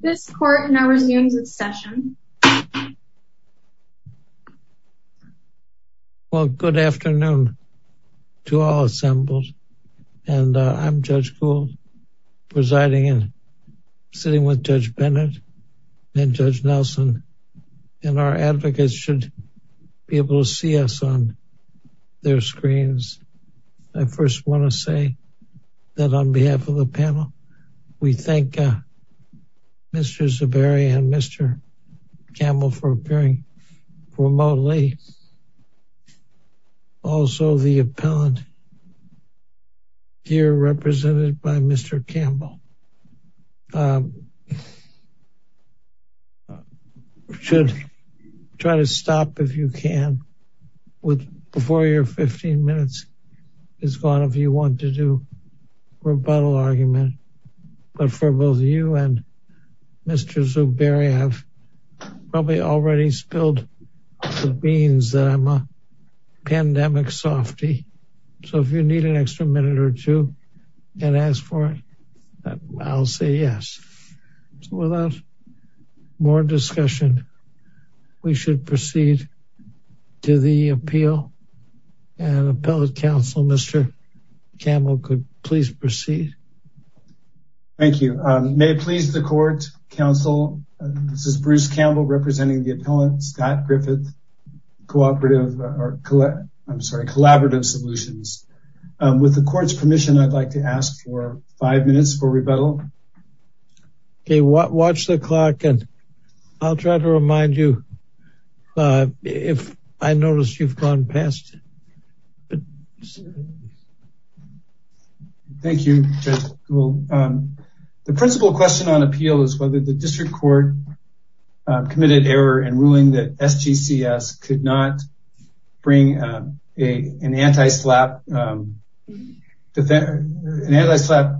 This court now resumes its session. Well good afternoon to all assembled and I'm Judge Gould presiding and sitting with Judge Bennett and Judge Nelson and our advocates should be able to see us on their screens. I first want to say that on behalf of the panel we thank Mr. Zuberi and Mr. Campbell for appearing remotely. Also the appellant here represented by Mr. Campbell. Um should try to stop if you can with before your 15 minutes is gone if you want to do rebuttal argument but for both you and Mr. Zuberi have probably already spilled the beans that I'm a so without more discussion we should proceed to the appeal and appellate counsel Mr. Campbell could please proceed. Thank you um may it please the court counsel this is Bruce Campbell representing the appellant Scott Griffith Cooperative or I'm sorry Collaborative Solutions. With the court's permission I'd like to ask for five minutes for rebuttal. Okay watch the clock and I'll try to remind you uh if I notice you've gone past. Thank you Judge Gould. The principal question on appeal is whether the district court committed error in ruling that SGCS could not bring a an anti-slap defense an anti-slap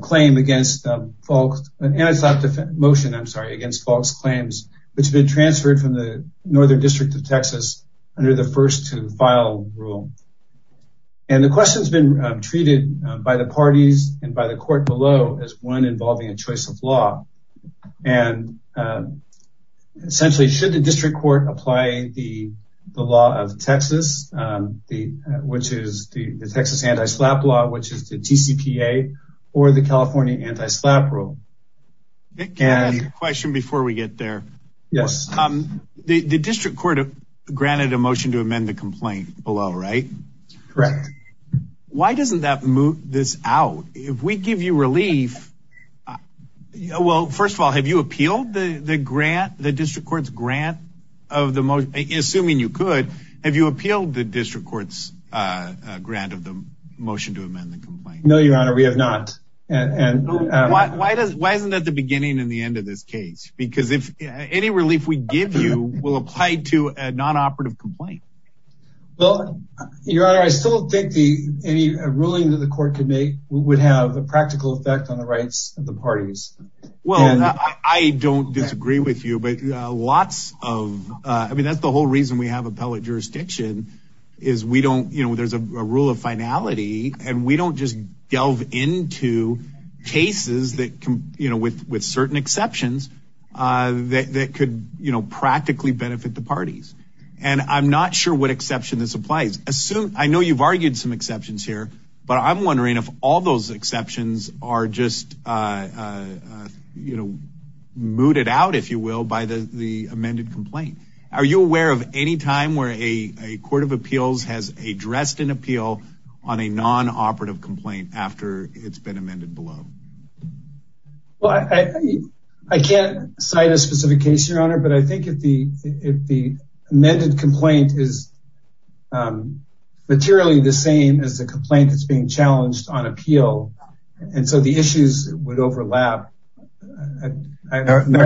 claim against folks an anti-slap motion I'm sorry against false claims which have been transferred from the northern district of Texas under the first to file rule and the question has been treated by the parties and by the court below as one involving a choice of law and essentially should the district court apply the the law of Texas the which is the Texas anti-slap law which is the TCPA or the California anti-slap rule and question before we get there yes um the the district court granted a motion to amend the complaint below right correct why doesn't that move this out if we give you relief well first of all have you appealed the the grant the district court's grant of the most assuming you could have you appealed the district court's uh grant of the motion to amend the complaint no your honor we have not and why does why isn't that the beginning and the end of this case because if any relief we give you will apply to a non-operative complaint well your honor I still think the any ruling that the court could make would have a practical effect on the rights of the parties well I don't disagree with you but uh lots of uh I mean that's the whole reason we have appellate jurisdiction is we don't you know there's a rule of finality and we don't just delve into cases that can you know with with certain exceptions uh that could you know practically benefit the parties and I'm not sure what exception this applies assume I know you've argued some exceptions here but I'm wondering if all those exceptions are just uh uh you know mooted out if you will by the the amended complaint are you aware of any time where a a court of appeals has addressed an appeal on a non-operative complaint after it's been your honor but I think if the if the amended complaint is um materially the same as the complaint that's being challenged on appeal and so the issues would overlap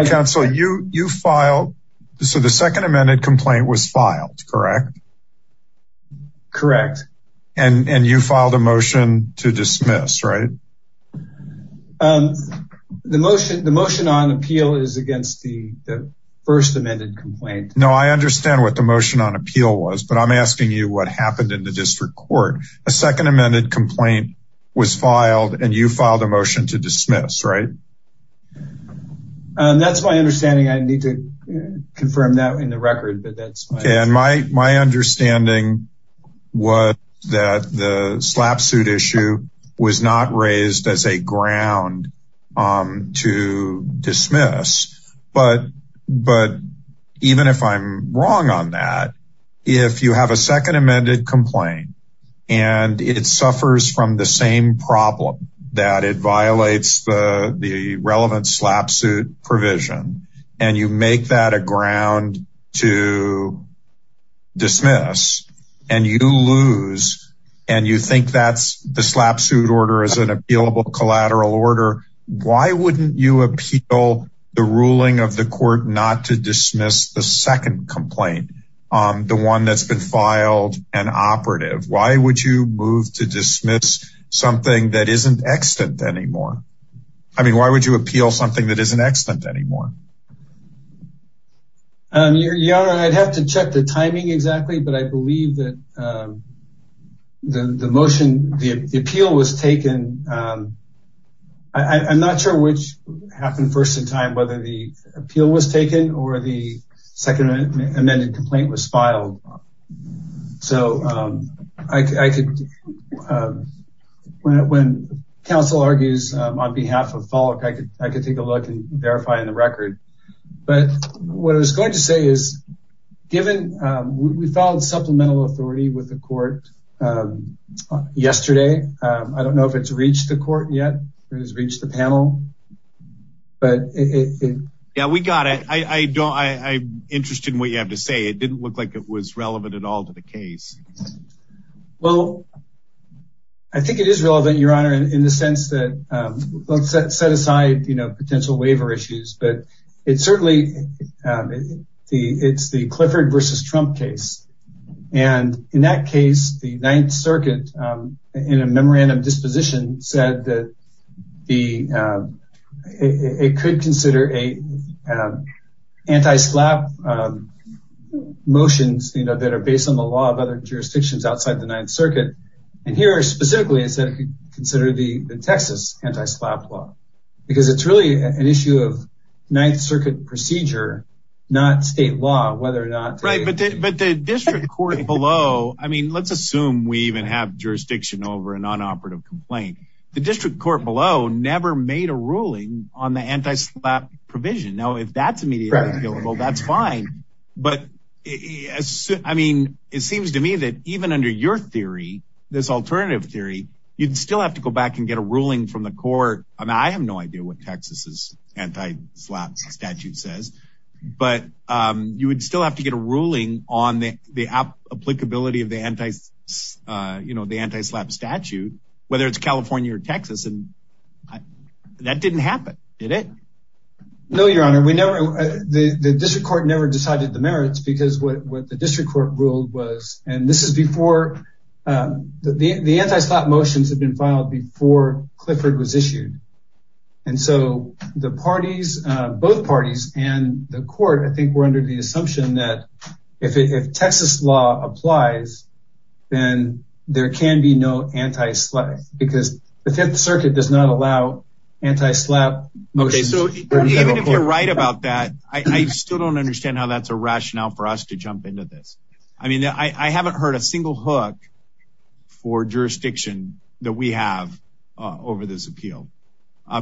counsel you you filed so the second amended complaint was filed correct correct and and you filed a motion to dismiss right um the motion the motion on appeal is against the the first amended complaint no I understand what the motion on appeal was but I'm asking you what happened in the district court a second amended complaint was filed and you filed a motion to dismiss right um that's my understanding I need to confirm that in the record but that's okay and my my understanding was that the slap suit issue was not raised as a ground um to dismiss but but even if I'm wrong on that if you have a second amended complaint and it suffers from the same problem that it violates the the relevant slap suit provision and you make that a ground to dismiss and you lose and you think that's the slap suit order is an appealable collateral order why wouldn't you appeal the ruling of the court not to dismiss the second complaint um the one that's been filed and operative why would you move to dismiss something that isn't extant anymore I mean why would you appeal something that isn't extant anymore um yeah I'd have to check the timing exactly but I believe that um the the motion the appeal was taken um I'm not sure which happened first in time whether the appeal was taken or the second amended complaint was filed so um I could um when council argues um on behalf of FOLIC I could I could take a look and verify in the record but what I was going to say is given um we filed supplemental authority with the court um yesterday I don't know if it's reached the court yet it has reached the panel but it yeah we got it I I don't I I'm interested in what you have to say it didn't look like it was relevant at all to the case well I think it is relevant your honor in the sense that um let's set aside you know potential waiver issues but it certainly um the it's the Clifford versus Trump case and in that case the 9th circuit um in a memorandum disposition said that the um it could consider a anti-slap um motions you know that are based on the law of other jurisdictions outside the 9th circuit and here specifically it said it could consider the the Texas anti-slap law because it's really an issue of 9th circuit procedure not state law whether or not right but the district court below I mean let's assume we even have jurisdiction over an unoperative complaint the district court below never made a ruling on the anti-slap provision now if that's immediately available that's fine but I mean it seems to me that even under your theory this alternative theory you'd still have to go back and get a ruling from the court I mean is anti-slap statute says but um you would still have to get a ruling on the the applicability of the anti uh you know the anti-slap statute whether it's California or Texas and that didn't happen did it no your honor we never the the district court never decided the merits because what what the district court ruled was and this is before um the the anti-slap motions have been filed before Clifford was issued and so the parties uh both parties and the court I think were under the assumption that if it if Texas law applies then there can be no anti-slap because the 5th circuit does not allow anti-slap okay so even if you're right about that I still don't understand how that's a rationale for us to jump into this I mean I haven't heard a single hook for jurisdiction that we have uh over this appeal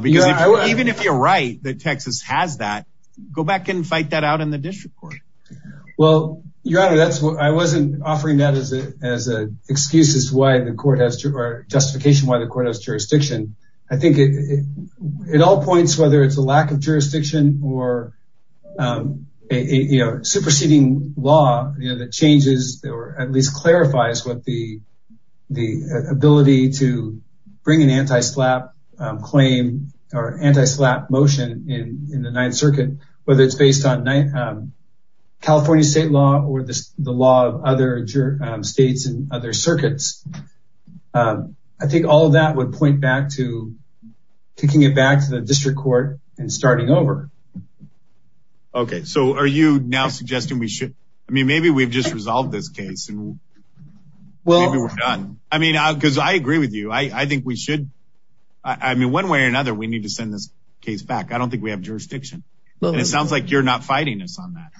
because even if you're right that Texas has that go back and fight that out in the district court well your honor that's what I wasn't offering that as a as a excuse as to why the court has to or justification why the court has jurisdiction I think it it all points whether it's a lack of jurisdiction or um a you know superseding law that changes or at least clarifies what the the ability to bring an anti-slap claim or anti-slap motion in in the 9th circuit whether it's based on California state law or the law of other states and other circuits I think all of that would point back to taking it back to the district court and starting over okay so are you now suggesting we should I mean maybe we've just resolved this case and well maybe we're done I mean because I agree with you I I think we should I mean one way or another we need to send this case back I don't think we have jurisdiction and it sounds like you're not fighting us on that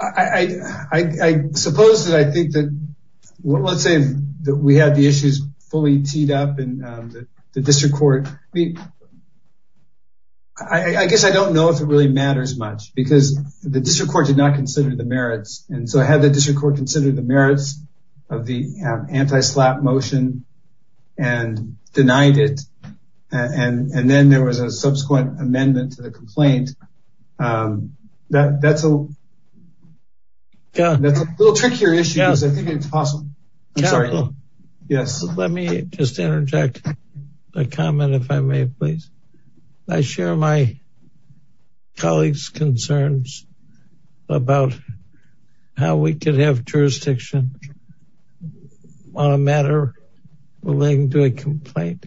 I I I suppose that I think that let's say that we had the issues fully teed up in the district court I mean I I guess I don't know if it really matters much because the district court did not consider the merits and so I had the district court consider the merits of the anti-slap motion and denied it and and then there was a subsequent amendment to the complaint um that that's a little trickier issue because I think it's possible I'm sorry yes let me just about how we could have jurisdiction on a matter relating to a complaint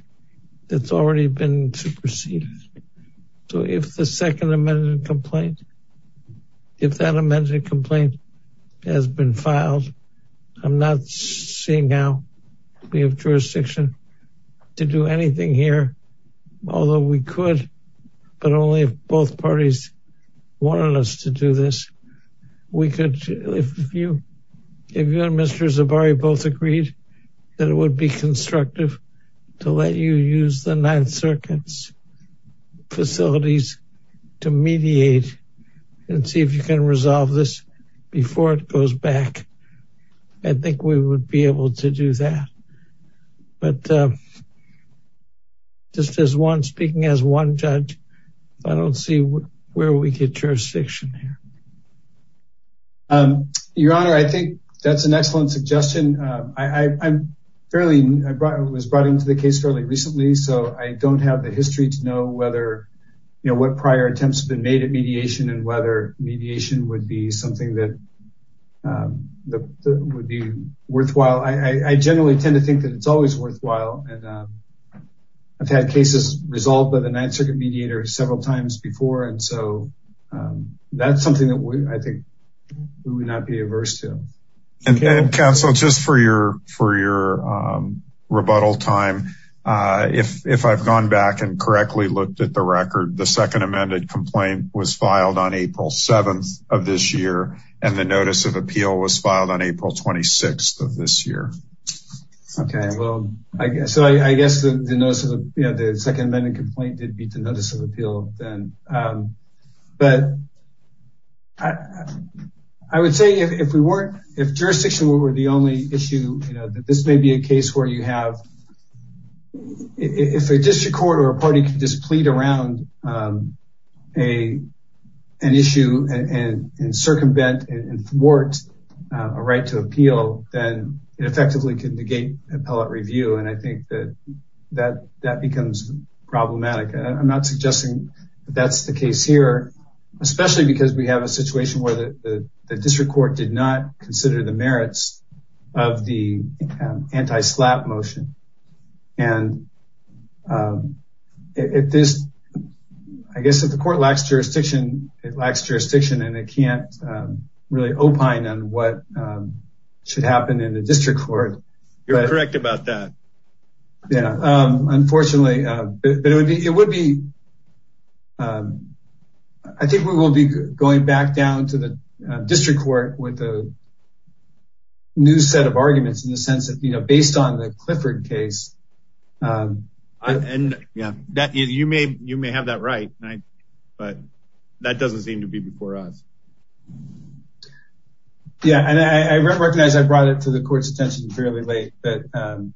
that's already been superseded so if the second amendment complaint if that amendment complaint has been filed I'm not seeing how we have jurisdiction to do anything here although we could but only if both parties wanted us to do this we could if you if you and Mr. Zabari both agreed that it would be constructive to let you use the Ninth Circuit's facilities to mediate and see if you can resolve this before it goes back I think we would be able to do that but uh just as one speaking as one judge I don't see where we get jurisdiction here um your honor I think that's an excellent suggestion uh I I'm fairly I brought was brought into the case fairly recently so I don't have the history to know whether you know what prior attempts have been made at mediation and whether mediation would be something that um that would be worthwhile I I generally tend to think that it's always worthwhile and I've had cases resolved by the Ninth Circuit mediator several times before and so that's something that I think we would not be averse to and counsel just for your for your rebuttal time uh if if I've gone back and correctly looked at the record the second amended complaint was filed on April 7th of this year and the notice of appeal was filed on April 26th of this year okay well I guess so I guess the notice of you know the second amendment complaint did beat the notice of appeal then um but I I would say if we weren't if jurisdiction were the only issue you know that this may be a case where you have if a district court or a party can just plead around um a an issue and and circumvent and thwart a right to appeal then it effectively can negate appellate review and I think that that that becomes problematic I'm not suggesting that's the case here especially because we have a situation where the the district court did not consider the merits of the anti-slap motion and if this I guess if the court lacks jurisdiction it lacks jurisdiction and it can't really opine on what should happen in the district court you're correct about that yeah um unfortunately uh but it would be it would be um I think we will be going back down to the district court with a new set of arguments in the sense that you know based on the Clifford case and yeah that you may you may have that right right but that doesn't seem to be before us um yeah and I recognize I brought it to the court's attention fairly late but um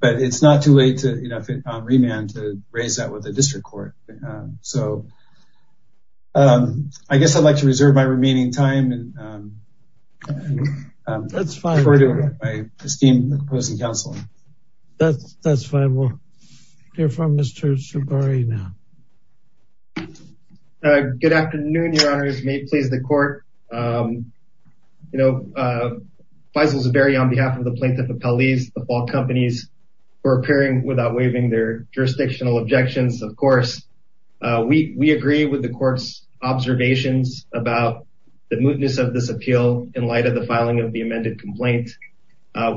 but it's not too late to you know remand to raise that with the district court so um I guess I'd like to reserve my remaining time and um that's fine for my esteemed opposing counsel that's that's fine we'll hear from Mr. Shabari now uh good afternoon your honors may it please the court um you know uh Faisal Shabari on behalf of the plaintiff appellees the fault companies for appearing without waiving their jurisdictional objections of course uh we we agree with the court's observations about the mootness of this appeal in light of the filing of the amended complaint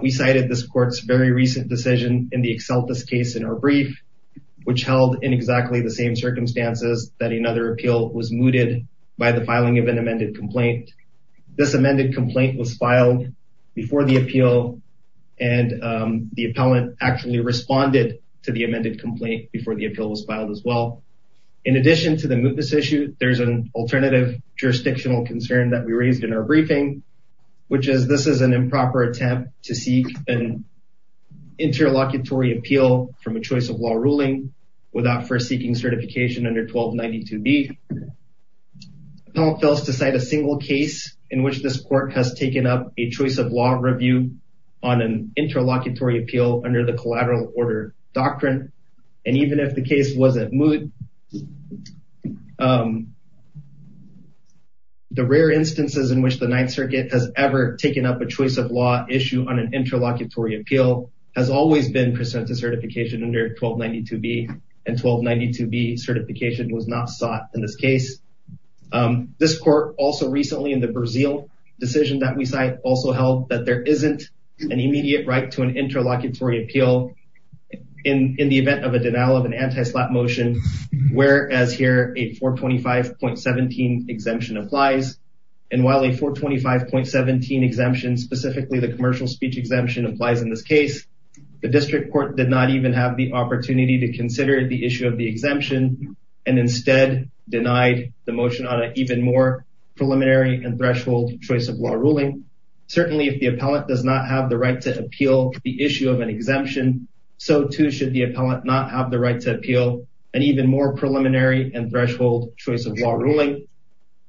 we cited this court's very recent decision in the exceltis case in our brief which held in exactly the same circumstances that another appeal was mooted by the filing of an amended complaint this amended complaint was filed before the appeal and um the appellant actually responded to the amended complaint before the appeal was filed as well in addition to the mootness issue there's an alternative jurisdictional concern that we raised in our briefing which is this is an improper attempt to seek an interlocutory appeal from a choice law ruling without first seeking certification under 1292b appellant fails to cite a single case in which this court has taken up a choice of law review on an interlocutory appeal under the collateral order doctrine and even if the case wasn't moot um the rare instances in which the ninth circuit has ever taken up a choice of law issue on an and 1292b certification was not sought in this case um this court also recently in the brazil decision that we cite also held that there isn't an immediate right to an interlocutory appeal in in the event of a denial of an anti-slap motion whereas here a 425.17 exemption applies and while a 425.17 exemption specifically the commercial speech exemption applies in this case the district court did not even have the opportunity to consider the issue of the exemption and instead denied the motion on an even more preliminary and threshold choice of law ruling certainly if the appellant does not have the right to appeal the issue of an exemption so too should the appellant not have the right to appeal an even more preliminary and threshold choice of law ruling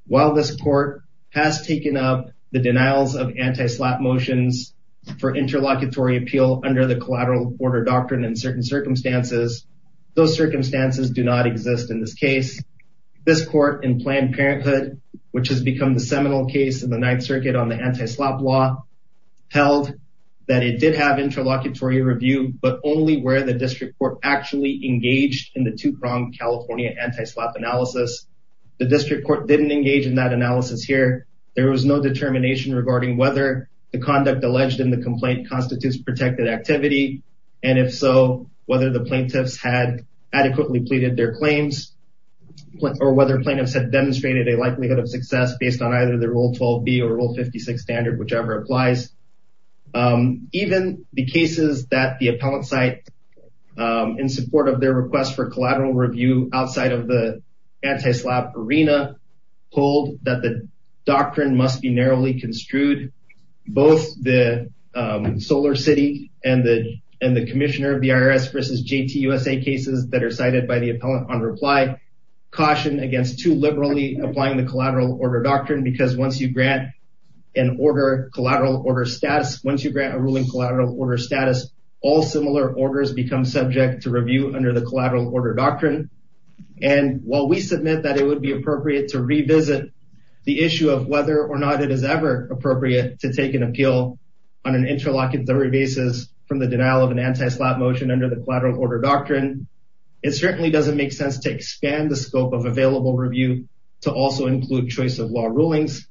while this court has taken up the denials of anti-slap motions for interlocutory appeal under the collateral order doctrine in certain circumstances those circumstances do not exist in this case this court in Planned Parenthood which has become the seminal case in the ninth circuit on the anti-slap law held that it did have interlocutory review but only where the district court actually engaged in the two-pronged california anti-slap analysis the district court didn't engage in that analysis here there was no determination regarding whether the conduct alleged in the complaint constitutes protected activity and if so whether the plaintiffs had adequately pleaded their claims or whether plaintiffs had demonstrated a likelihood of success based on either the rule 12b or rule 56 standard whichever applies even the cases that the appellant site in support of their request for collateral review outside of the anti-slap arena hold that the doctrine must be narrowly construed both the solar city and the and the commissioner of the irs versus jt usa cases that are cited by the appellant on reply caution against too liberally applying the collateral order doctrine because once you grant an order collateral order status once you grant a ruling collateral order status all similar orders become subject to review under the collateral order doctrine and while we submit that it would be appropriate to revisit the issue of whether or not it is ever appropriate to take an appeal on an interlocutory basis from the denial of an anti-slap motion under the collateral order doctrine it certainly doesn't make sense to expand the scope of available review to also include choice of law rulings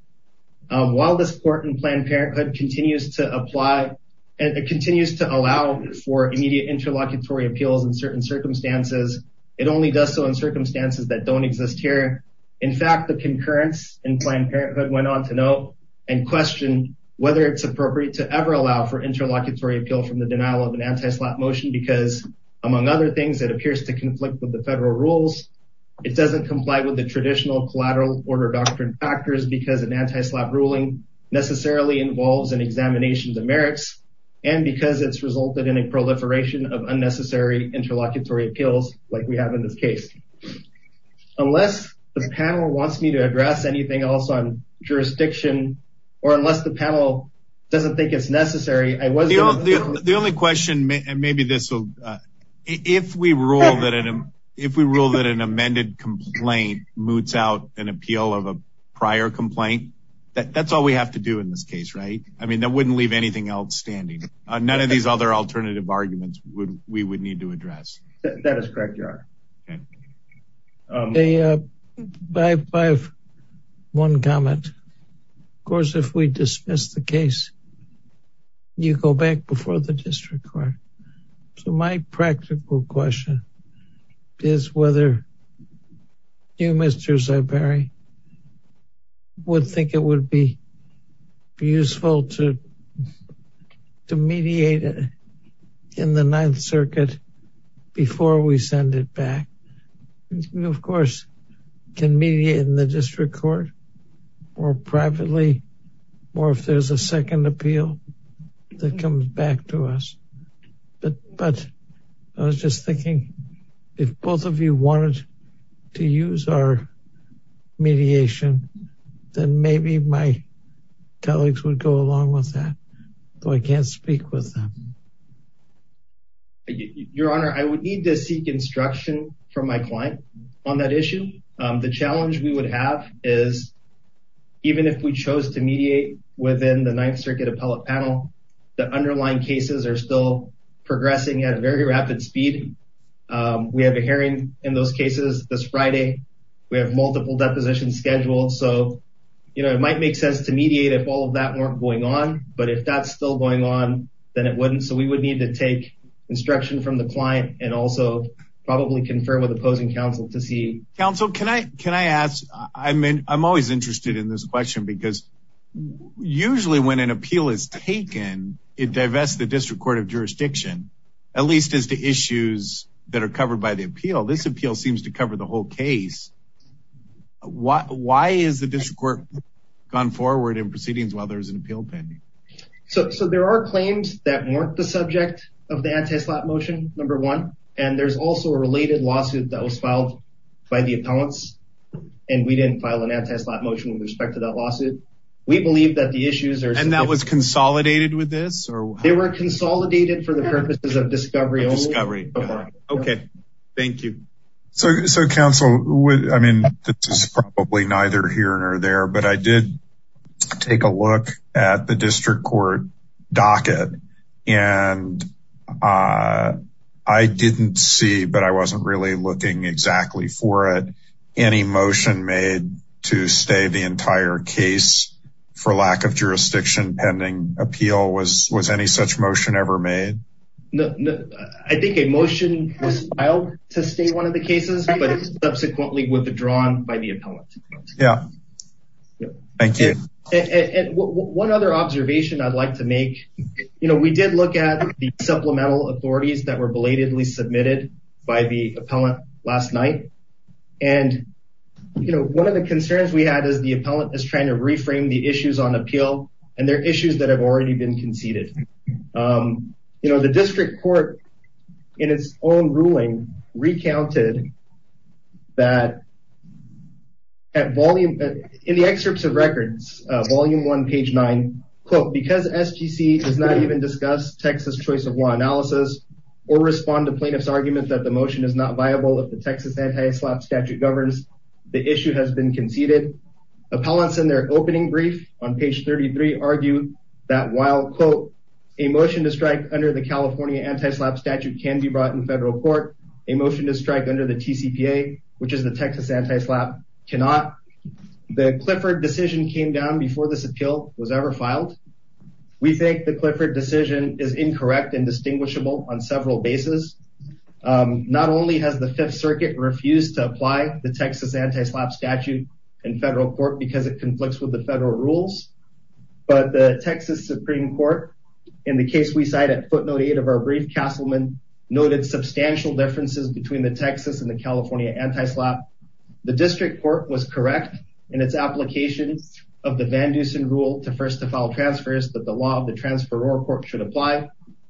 while this court and planned parenthood continues to apply and it continues to allow for immediate interlocutory appeals in certain circumstances it only does so in circumstances that don't exist here in fact the concurrence in planned parenthood went on to note and question whether it's appropriate to ever allow for interlocutory appeal from the denial of an anti-slap motion because among other things it appears to conflict with the federal rules it doesn't comply with the traditional collateral order doctrine factors because an anti-slap ruling necessarily involves an examination of the merits and because it's like we have in this case unless the panel wants me to address anything else on jurisdiction or unless the panel doesn't think it's necessary i was the only question maybe this will if we rule that if we rule that an amended complaint moots out an appeal of a prior complaint that that's all we have to do in this case right i mean that wouldn't leave anything else standing none of other alternative arguments would we would need to address that is correct you are okay i have one comment of course if we dismiss the case you go back before the district court so my practical question is whether you mr zyberi would think it would be useful to to mediate it in the ninth circuit before we send it back you of course can mediate in the district court or privately or if there's a second appeal that comes back to us but but i was just thinking if both of you wanted to use our mediation then maybe my colleagues would go along with that though i can't speak with them your honor i would need to seek instruction from my client on that issue the challenge we would have is even if we chose to mediate within the ninth circuit appellate panel the underlying cases are still progressing at very rapid speed we have a hearing in those cases this friday we have multiple depositions scheduled so you know it might make sense to mediate if all of that weren't going on but if that's still going on then it wouldn't so we would need to take instruction from the client and also probably confirm with opposing counsel to see counsel can i can i ask i mean i'm always interested in this question because usually when an appeal is taken it divests the district court of jurisdiction at least as the issues that are covered by the appeal this appeal seems to cover the whole case why why is the district court gone forward in proceedings while there's an appeal pending so so there are claims that weren't the subject of the anti-slap motion number one and there's also a related lawsuit that was filed by the appellants and we didn't file an anti-slap motion with respect to that lawsuit we believe that the issues are and that was consolidated with this or they were consolidated for the purposes of discovery discovery okay thank you so so counsel would i mean this is probably neither here nor there but i did take a look at the district court docket and uh i didn't see but i wasn't really looking exactly for it any motion made to stay the entire case for lack of jurisdiction pending appeal was was any such motion ever made no i think a motion was filed to stay one of the cases but subsequently withdrawn by the appellant yeah thank you and one other observation i'd like to make you know we did look at the supplemental authorities that were belatedly submitted by the appellant last night and you know one of the concerns we had is the appellant is trying to reframe the issues on appeal and they're issues that have already been conceded um you know the district court in its own ruling recounted that at volume in the excerpts of records volume one page nine quote because sgc does not even discuss texas choice of law analysis or respond to plaintiffs argument that the motion is not viable if the texas anti-slap statute governs the issue has been conceded appellants in their opening brief on page 33 argue that while quote a motion to strike under the california anti-slap statute can be brought in federal court a motion to strike under the tcpa which is the texas anti-slap cannot the clifford decision came down before this appeal was ever filed we think the clifford decision is incorrect and distinguishable several bases um not only has the fifth circuit refused to apply the texas anti-slap statute in federal court because it conflicts with the federal rules but the texas supreme court in the case we cite at footnote eight of our brief castleman noted substantial differences between the texas and the california anti-slap the district court was correct in its application of the vandusen rule to first to file transfers that the law of the transfer or court should apply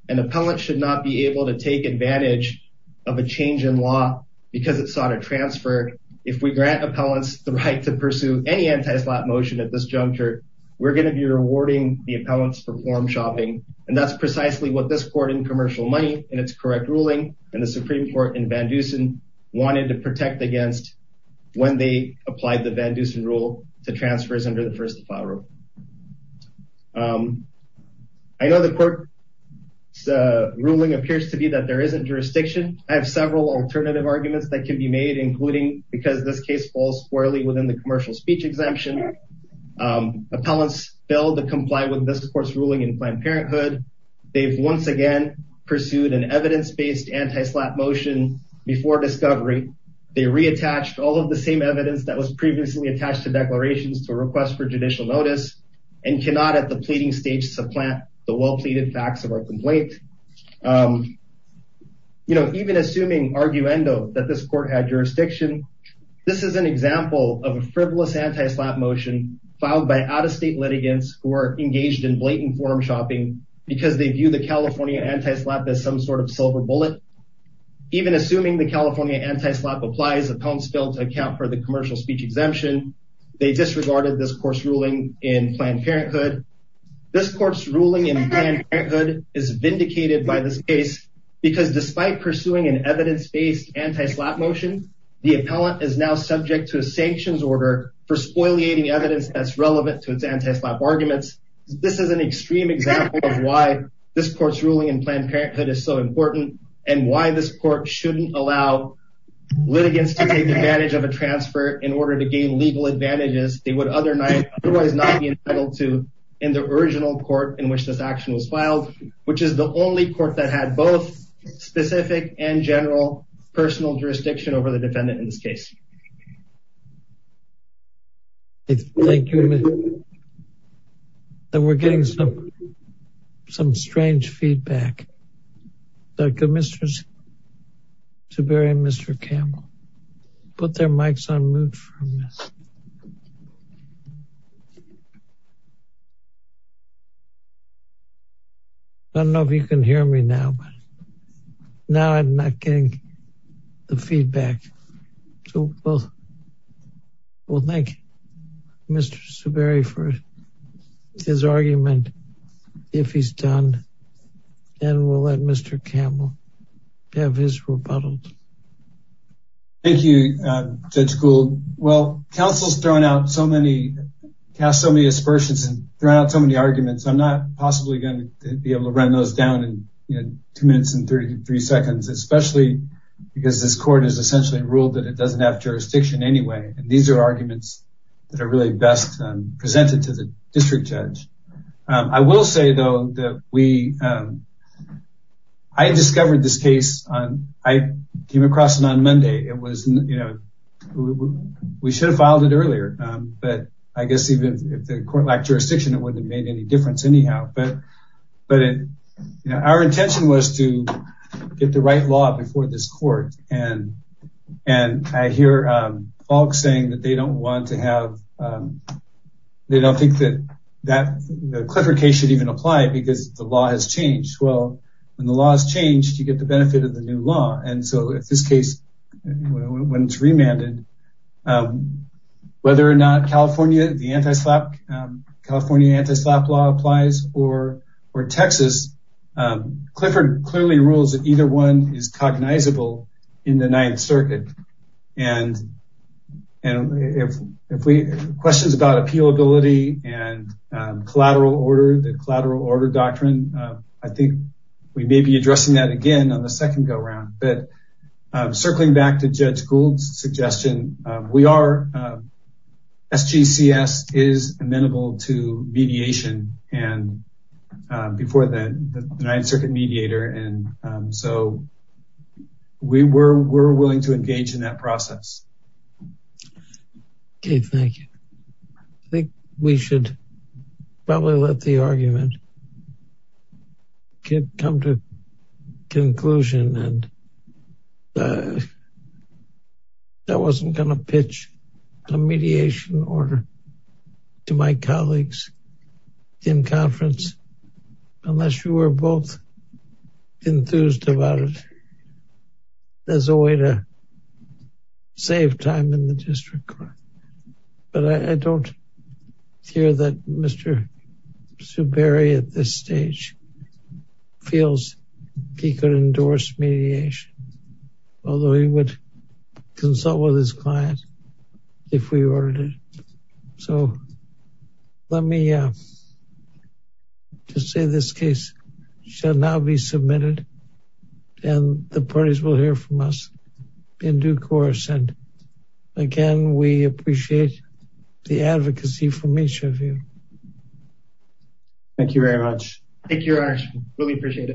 an appellant should not be able to take advantage of a change in law because it sought a transfer if we grant appellants the right to pursue any anti-slap motion at this juncture we're going to be rewarding the appellants for form shopping and that's precisely what this court in commercial money in its correct ruling and the supreme court in vandusen wanted to protect against when they applied the vandusen rule to transfers under the first file rule um i know the court the ruling appears to be that there isn't jurisdiction i have several alternative arguments that can be made including because this case falls squarely within the commercial speech exemption um appellants fail to comply with this court's ruling in Planned Parenthood they've once again pursued an evidence-based anti-slap motion before discovery they reattached all of the same evidence that was previously attached to declarations to request for and cannot at the pleading stage supplant the well-pleaded facts of our complaint um you know even assuming arguendo that this court had jurisdiction this is an example of a frivolous anti-slap motion filed by out-of-state litigants who are engaged in blatant form shopping because they view the california anti-slap as some sort of silver bullet even assuming the california anti-slap applies appellants fail to account for the commercial speech exemption they disregarded this course ruling in Planned Parenthood this court's ruling in Planned Parenthood is vindicated by this case because despite pursuing an evidence-based anti-slap motion the appellant is now subject to a sanctions order for spoiling evidence that's relevant to its anti-slap arguments this is an extreme example of why this court's ruling in Planned Parenthood is so important and why this court shouldn't allow litigants to take advantage of a transfer in order to gain legal advantages they would other night otherwise not be entitled to in the original court in which this action was filed which is the only court that had both specific and general personal jurisdiction over the defendant in this case thank you and we're getting some some strange feedback like a mistress to bury mr campbell put their mics on mute from this i don't know if you can hear me now but now i'm not getting the feedback so well well thank mr subari for his argument if he's done and we'll let mr campbell have his rebuttal thank you uh judge cool well council's thrown out so many cast so many aspersions and thrown out so many arguments i'm not possibly going to be able to run those down in two minutes and 33 seconds especially because this court has essentially ruled that it doesn't have jurisdiction anyway and these are arguments that are really best presented to the district judge i will say though that we um i discovered this case on i came across it on monday it was you know we should have filed it earlier um but i guess even if the court lacked jurisdiction it wouldn't have made any difference anyhow but but you know our intention was to get the right law before this court and and i hear um folks saying that they don't want to have um they don't think that that the clifford case should even apply because the law has changed well when the law has changed you get the benefit of the new law and so if this case when it's remanded um whether or not california the anti-slap california anti-slap law applies or or texas um clifford clearly rules that either one is cognizable in the ninth circuit and and if if we questions about appealability and collateral order the collateral order doctrine i think we may be addressing that again on the second go around but um circling back to judge gould's suggestion we are sgcs is amenable to mediation and before that the ninth circuit mediator and um so we were we're willing to engage in that process okay thank you i think we should probably let the argument get come to conclusion and uh that wasn't gonna pitch a mediation order to my colleagues in conference unless you were both enthused about it there's a way to save time in the district court but i i don't hear that mr. superior at this stage feels he could endorse mediation although he would consult with his client if we ordered it so let me uh just say this case shall now be submitted and the parties will hear from us in due course and again we appreciate the advocacy from each of you thank you very much thank you your honor really appreciate it